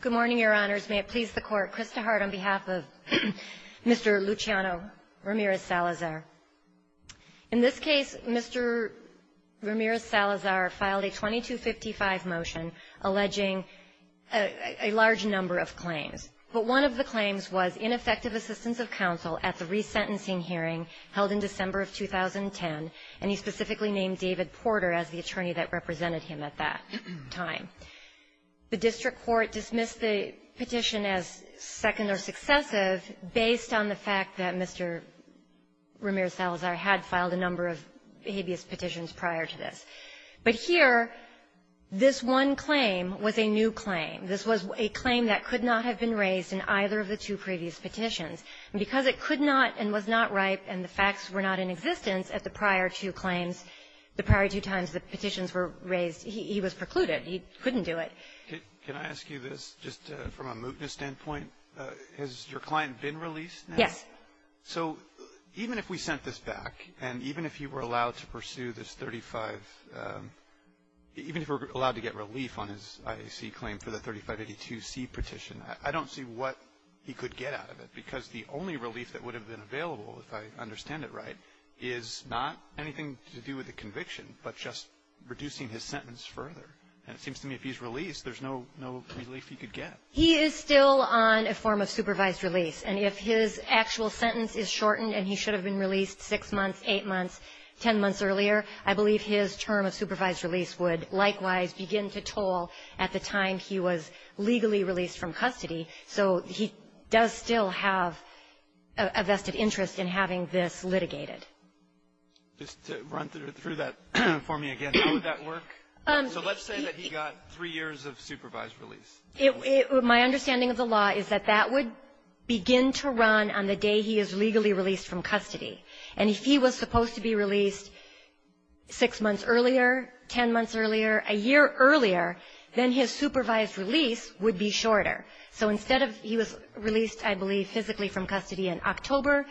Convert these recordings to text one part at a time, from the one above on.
Good morning, Your Honors. May it please the Court, Krista Hart on behalf of Mr. Luciano Ramirez-Salazar. In this case, Mr. Ramirez-Salazar filed a 2255 motion alleging a large number of claims. But one of the claims was ineffective assistance of counsel at the resentencing hearing held in December of 2010, and he specifically named David Porter as the attorney that represented him at that time. The district court dismissed the petition as second or successive based on the fact that Mr. Ramirez-Salazar had filed a number of habeas petitions prior to this. But here, this one claim was a new claim. This was a claim that could not have been raised in either of the two previous petitions. And because it could not and was not ripe and the facts were not in existence at the prior two claims, the prior two times the petitions were raised, he was precluded. He couldn't do it. Kennedy. Can I ask you this, just from a mootness standpoint? Has your client been released now? Ramirez-Salazar Yes. Kennedy. So even if we sent this back, and even if he were allowed to pursue this 35 — even if he were allowed to get relief on his IAC claim for the 3582C petition, I don't see what he could get out of it. Because the only relief that would have been available, if I understand it right, is not anything to do with the conviction, but just reducing his sentence further. And it seems to me if he's released, there's no relief he could get. Ramirez-Salazar He is still on a form of supervised release. And if his actual sentence is shortened and he should have been released six months, eight months, ten months earlier, I believe his term of supervised release would likewise begin to toll at the time he was legally released from custody. So he does still have a vested interest in having this litigated. Kennedy. Just to run through that for me again, how would that work? So let's say that he got three years of supervised release. Ramirez-Salazar My understanding of the law is that that would begin to run on the day he is legally released from custody. And if he was supposed to be released six months earlier, ten months earlier, a year earlier, then his supervised release would be shorter. So instead of he was released, I believe, physically from custody in October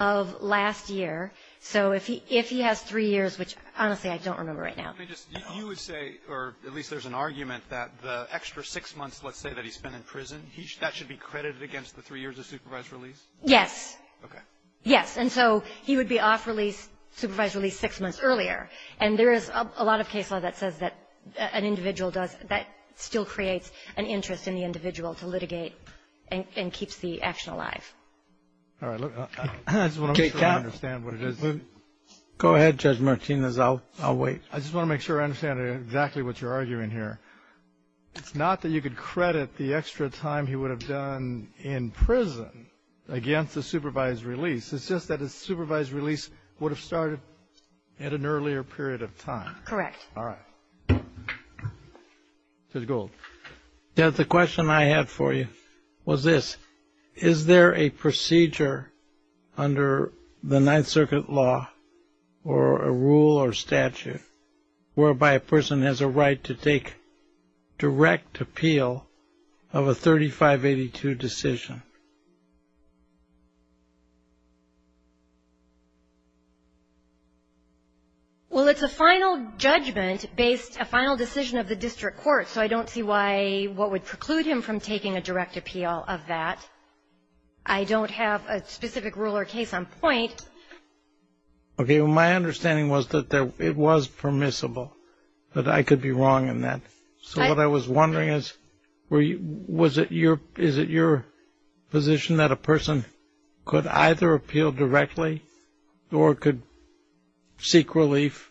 of last year. So if he has three years, which, honestly, I don't remember right now. Alito You would say, or at least there's an argument that the extra six months, let's say, that he spent in prison, that should be credited against the three years of supervised release? Ramirez-Salazar Yes. Alito Okay. Ramirez-Salazar Yes. And so he would be off release, supervised release, six months earlier. And there is a lot of case law that says that an individual does that still creates an interest in the individual to litigate and keeps the action alive. Alito All right. I just want to make sure I understand what it is. Roberts Go ahead, Judge Martinez. I'll wait. Alito I just want to make sure I understand exactly what you're arguing here. It's not that you could credit the extra time he would have done in prison against the supervised release. It's just that his supervised release would have started at an earlier period of time. Ramirez-Salazar Correct. Alito All right. Judge Gould. Gould Yes. The question I had for you was this. Is there a procedure under the Ninth Circuit law or a rule or statute whereby a person has a right to take direct appeal of a 3582 decision? Ramirez-Salazar Well, it's a final judgment based, a final decision of the district court. So I don't see why, what would preclude him from taking a direct appeal of that. I don't have a specific rule or case on point. Alito Okay. Well, my understanding was that it was permissible, that I could be wrong in that. So what I was wondering is, was it your, is it your, is it your, is it your, position that a person could either appeal directly or could seek relief,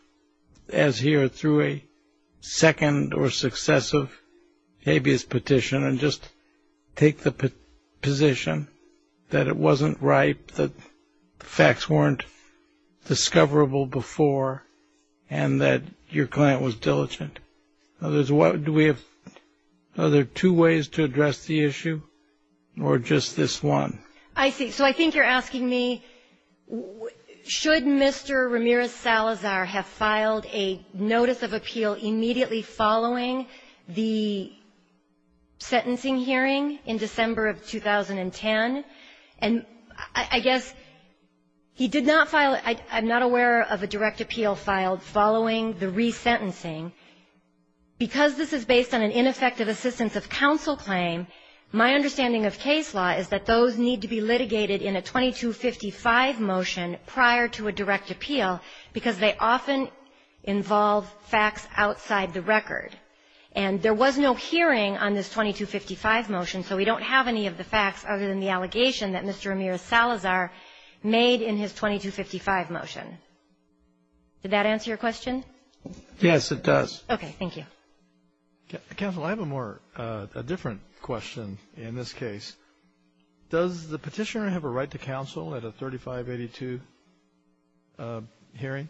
as here through a second or successive habeas petition, and just take the position that it wasn't right, that the facts weren't discoverable before, and that your client was diligent? Do we have, are there two ways to address the issue, or just this one? Ramirez-Salazar I see. So I think you're asking me, should Mr. Ramirez-Salazar have filed a notice of appeal immediately following the sentencing hearing in December of 2010? And I guess he did not file, I'm not aware of a direct appeal filed following the resentencing. Because this is based on an ineffective assistance of counsel claim, my understanding of case law is that those need to be litigated in a 2255 motion prior to a direct appeal because they often involve facts outside the record. And there was no hearing on this 2255 motion, so we don't have any of the facts other than the allegation that Mr. Ramirez-Salazar made in his 2255 motion. Did that answer your question? Kennedy Yes, it does. Ramirez-Salazar Okay. Thank you. Kennedy Counsel, I have a more, a different question in this case. Does the Petitioner have a right to counsel at a 3582 hearing? Ramirez-Salazar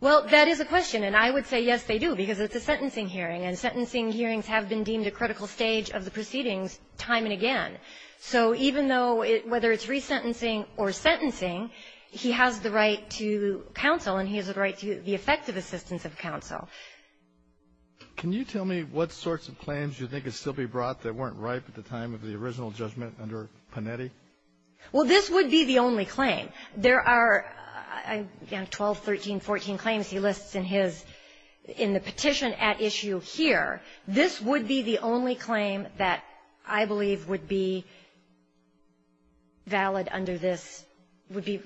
Well, that is a question. And I would say, yes, they do, because it's a sentencing hearing, and sentencing hearings have been deemed a critical stage of the proceedings time and again. So even though it, whether it's resentencing or sentencing, he has the right to counsel and he has the right to the effective assistance of counsel. Kennedy Can you tell me what sorts of claims you think could still be brought that weren't ripe at the time of the original judgment under Panetti? Ramirez-Salazar Well, this would be the only claim. There are 12, 13, 14 claims he lists in his, in the petition at issue here. This would be the only claim that I believe would be valid under this, would be,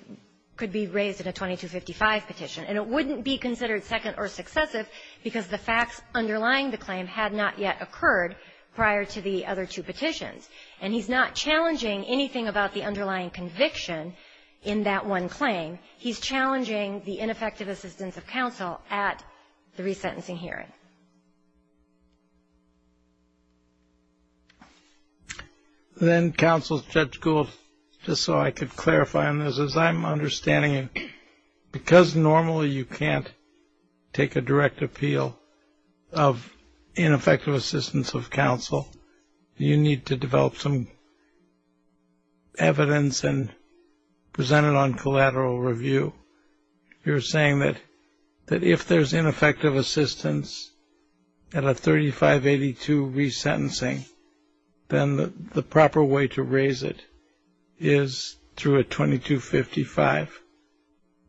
could be raised in a 2255 petition. And it wouldn't be considered second or successive because the facts underlying the claim had not yet occurred prior to the other two petitions. And he's not challenging anything about the underlying conviction in that one claim. He's challenging the ineffective assistance of counsel at the resentencing hearing. Kennedy Then Counsel Judge Gould, just so I could clarify on this, as I'm understanding it, because normally you can't take a direct appeal of ineffective assistance of counsel, you need to develop some evidence and present it on collateral review. You're saying that if there's ineffective assistance at a 3582 resentencing, then the proper way to raise it is through a 2255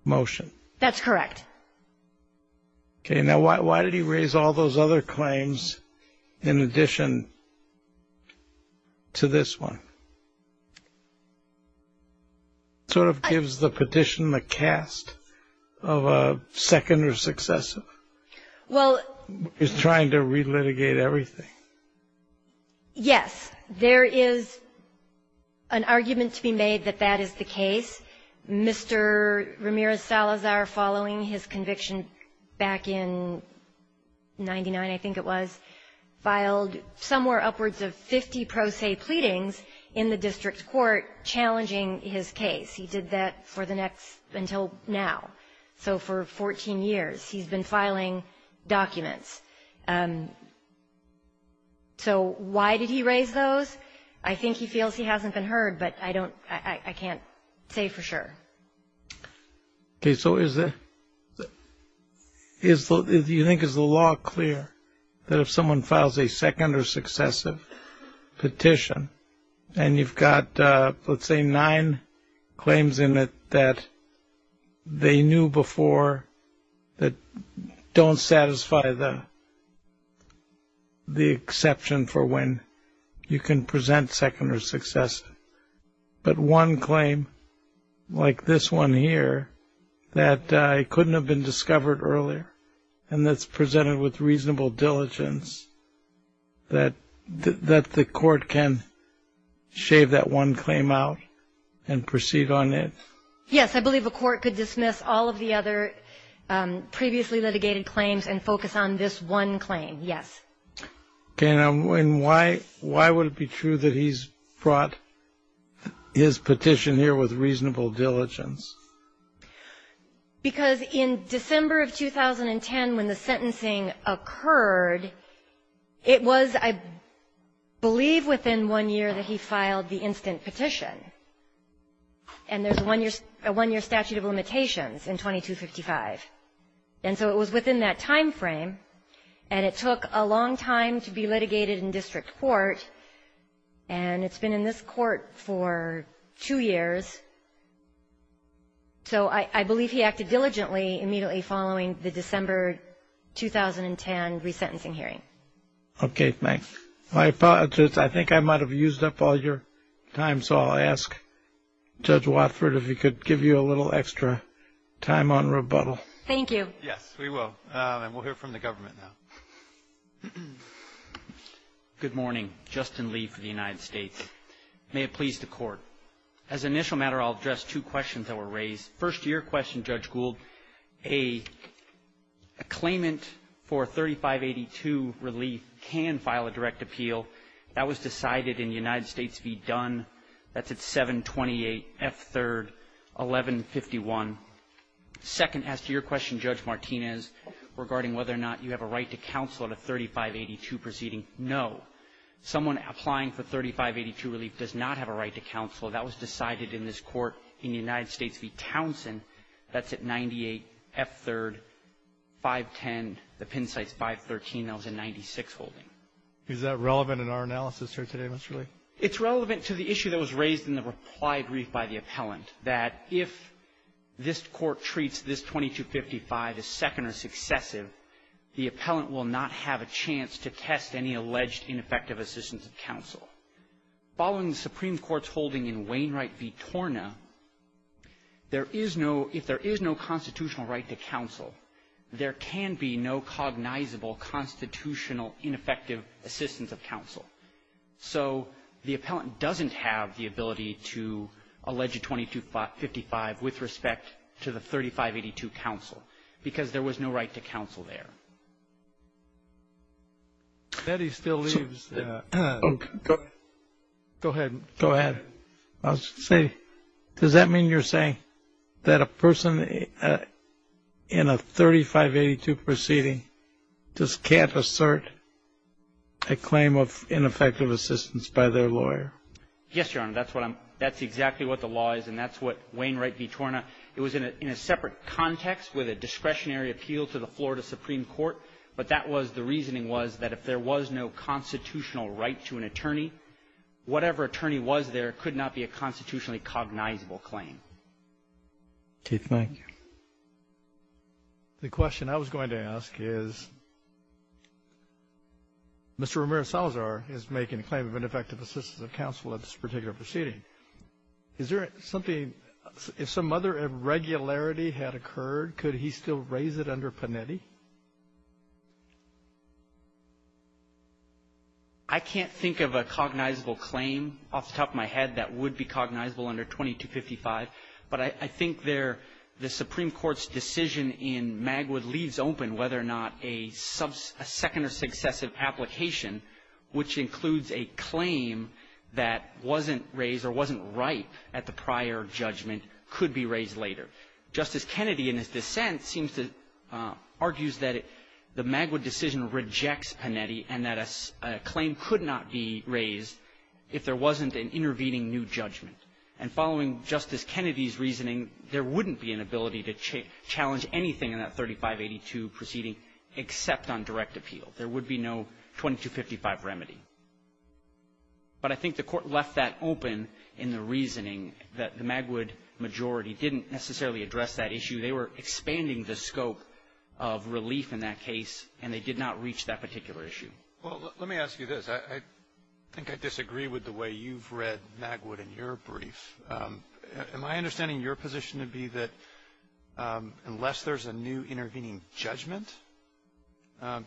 motion. Ramirez-Salazar That's correct. Kennedy Okay. Now, why did he raise all those other claims in addition to this one? It sort of gives the petition the cast of a second or successive. He's trying to relitigate everything. Ramirez-Salazar Yes. There is an argument to be made that that is the case. Mr. Ramirez-Salazar, following his conviction back in 99, I think it was, filed somewhere upwards of 50 pro se pleadings in the district court challenging his case. He did that until now. So for 14 years he's been filing documents. So why did he raise those? I think he feels he hasn't been heard, but I can't say for sure. Kennedy Okay. So you think is the law clear that if someone files a second or successive petition and you've got, let's say, nine claims in it that they knew before that don't satisfy the exception for when you can present second or successive, but one claim like this one here that couldn't have been discovered earlier and that's presented with reasonable diligence, that the court can shave that one claim out and proceed on it? Ramirez-Salazar Yes. I believe a court could dismiss all of the other previously litigated claims and focus on this one claim, yes. Kennedy Okay. And why would it be true that he's brought his petition here with reasonable diligence? Ramirez-Salazar Because in December of 2010 when the sentencing occurred, it was, I believe, within one year that he filed the instant petition. And there's a one-year statute of limitations in 2255. And so it was within that timeframe, and it took a long time to be litigated in district court, and it's been in this court for two years. So I believe he acted diligently immediately following the December 2010 resentencing hearing. Kennedy Okay. My apologies. I think I might have used up all your time, so I'll ask Judge Watford if he could give you a little extra time on rebuttal. Watford Thank you. Gould Yes, we will. And we'll hear from the government now. Lee Good morning. Justin Lee for the United States. May it please the Court. As an initial matter, I'll address two questions that were raised. First, to your question, Judge Gould, a claimant for 3582 relief can file a direct appeal. That was decided in United States v. Dunn. That's at 728F3-1151. Second, as to your question, Judge Martinez, regarding whether or not you have a right to counsel at a 3582 proceeding, no. Someone applying for 3582 relief does not have a right to counsel. That was decided in this court in United States v. Townsend. That's at 98F3-510, the Penn Sites 513. That was in 96 holding. Is that relevant in our analysis here today, Mr. Lee? It's relevant to the issue that was raised in the reply brief by the appellant, that if this Court treats this 2255 as second or successive, the appellant will not have a chance to test any alleged ineffective assistance of counsel. Following the Supreme Court's holding in Wainwright v. Torna, there is no – if there is no constitutional right to counsel, there can be no cognizable constitutional ineffective assistance of counsel. So the appellant doesn't have the ability to allege a 2255 with respect to the 3582 counsel because there was no right to counsel there. Kennedy still leaves. Go ahead. Go ahead. I'll just say, does that mean you're saying that a person in a 3582 proceeding just can't assert a claim of ineffective assistance by their lawyer? Yes, Your Honor. That's what I'm – that's exactly what the law is, and that's what Wainwright v. Torna – it was in a separate context with a discretionary appeal to the Florida Supreme Court, but that was – the reasoning was that if there was no constitutional right to an attorney, whatever attorney was there could not be a constitutionally cognizable claim. Keith, thank you. The question I was going to ask is, Mr. Ramirez-Salazar is making a claim of ineffective assistance of counsel at this particular proceeding. Is there something – if some other irregularity had occurred, could he still raise it under Panetti? I can't think of a cognizable claim off the top of my head that would be cognizable under 2255, but I think there – the Supreme Court's decision in Magwood leaves open whether or not a second or successive application, which includes a claim that wasn't raised or wasn't ripe at the prior judgment could be raised later. Justice Kennedy in his dissent seems to – argues that the Magwood decision rejects Panetti and that a claim could not be raised if there wasn't an intervening new And following Justice Kennedy's reasoning, there wouldn't be an ability to challenge anything in that 3582 proceeding except on direct appeal. There would be no 2255 remedy. But I think the Court left that open in the reasoning that the Magwood majority didn't necessarily address that issue. They were expanding the scope of relief in that case, and they did not reach that particular issue. Well, let me ask you this. I think I disagree with the way you've read Magwood in your brief. Am I understanding your position to be that unless there's a new intervening judgment,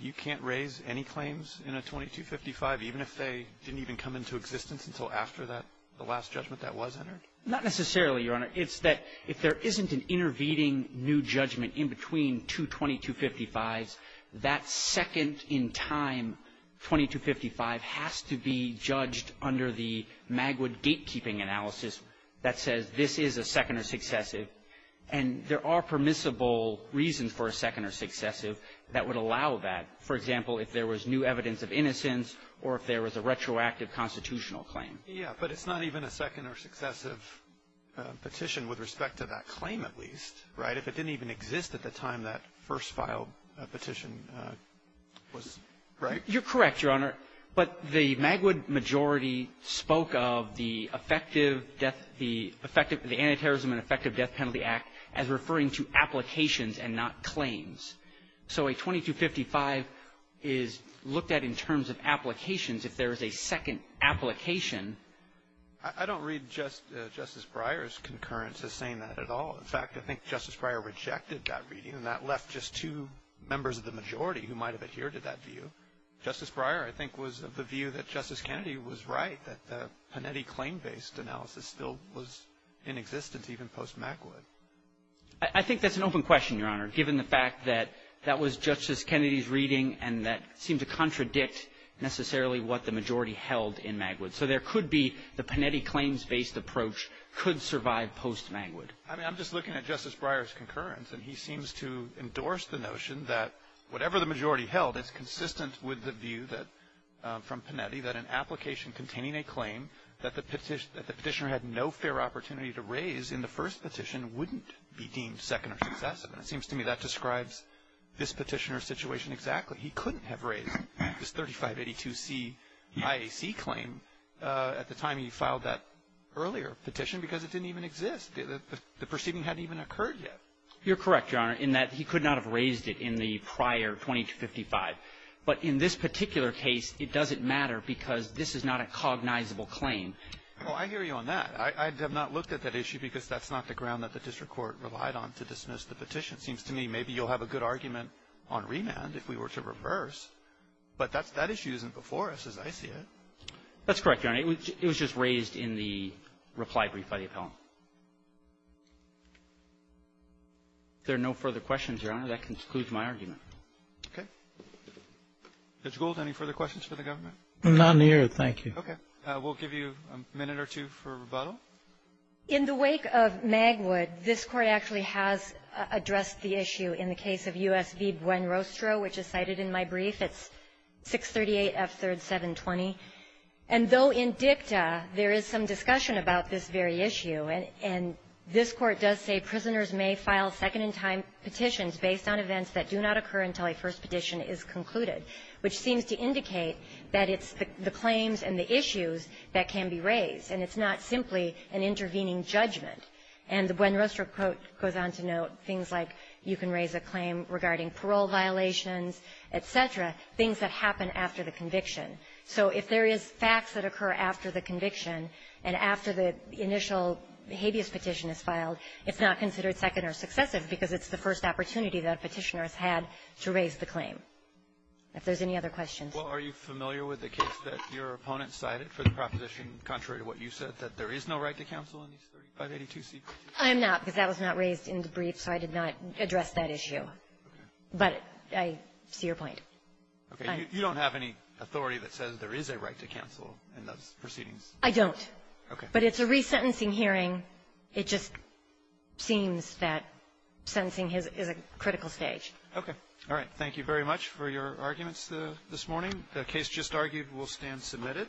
you can't raise any claims in a 2255, even if they didn't even come into existence until after that – the last judgment that was entered? Not necessarily, Your Honor. It's that if there isn't an intervening new judgment in between two 2255s, that second or successive petition in time, 2255, has to be judged under the Magwood gatekeeping analysis that says this is a second or successive. And there are permissible reasons for a second or successive that would allow that. For example, if there was new evidence of innocence or if there was a retroactive constitutional claim. Yeah. But it's not even a second or successive petition with respect to that claim, at least, right? If it didn't even exist at the time that first filed petition was – right? You're correct, Your Honor. But the Magwood majority spoke of the effective death – the effective – the Anti-Terrorism and Effective Death Penalty Act as referring to applications and not claims. So a 2255 is looked at in terms of applications if there is a second application. I don't read Justice Breyer's concurrence as saying that at all. In fact, I think Justice Breyer rejected that reading, and that left just two members of the majority who might have adhered to that view. Justice Breyer, I think, was of the view that Justice Kennedy was right, that the Panetti claim-based analysis still was in existence even post-Magwood. I think that's an open question, Your Honor, given the fact that that was Justice Kennedy's view, that it could be – the Panetti claims-based approach could survive post-Magwood. I mean, I'm just looking at Justice Breyer's concurrence, and he seems to endorse the notion that whatever the majority held, it's consistent with the view that – from Panetti, that an application containing a claim that the petitioner had no fair opportunity to raise in the first petition wouldn't be deemed second or successive. And it seems to me that describes this petitioner's situation exactly. He couldn't have raised this 3582C IAC claim at the time he filed that earlier petition because it didn't even exist. The perceiving hadn't even occurred yet. You're correct, Your Honor, in that he could not have raised it in the prior 2255. But in this particular case, it doesn't matter because this is not a cognizable claim. Well, I hear you on that. I have not looked at that issue because that's not the ground that the district court relied on to dismiss the petition. Seems to me maybe you'll have a good argument on remand if we were to reverse, but that's – that issue isn't before us as I see it. That's correct, Your Honor. It was just raised in the reply brief by the appellant. If there are no further questions, Your Honor, that concludes my argument. Okay. Judge Gould, any further questions for the government? None here. Okay. We'll give you a minute or two for rebuttal. In the wake of Magwood, this Court actually has addressed the issue in the case of U.S. v. Buenrostro, which is cited in my brief. It's 638 F. 3rd 720. And though in dicta, there is some discussion about this very issue, and this Court does say prisoners may file second-in-time petitions based on events that do not occur until a first petition is concluded, which seems to indicate that it's the claims and the intervening judgment. And the Buenrostro quote goes on to note things like you can raise a claim regarding parole violations, et cetera, things that happen after the conviction. So if there is facts that occur after the conviction and after the initial habeas petition is filed, it's not considered second or successive because it's the first opportunity that a petitioner has had to raise the claim. If there's any other questions. Well, are you familiar with the case that your opponent cited for the proposition contrary to what you said, that there is no right to counsel in these 3582C? I'm not, because that was not raised in the brief, so I did not address that issue. Okay. But I see your point. Okay. You don't have any authority that says there is a right to counsel in those proceedings? I don't. Okay. But it's a resentencing hearing. It just seems that sentencing is a critical stage. Okay. All right. Thank you very much for your arguments this morning. The case just argued will stand submitted.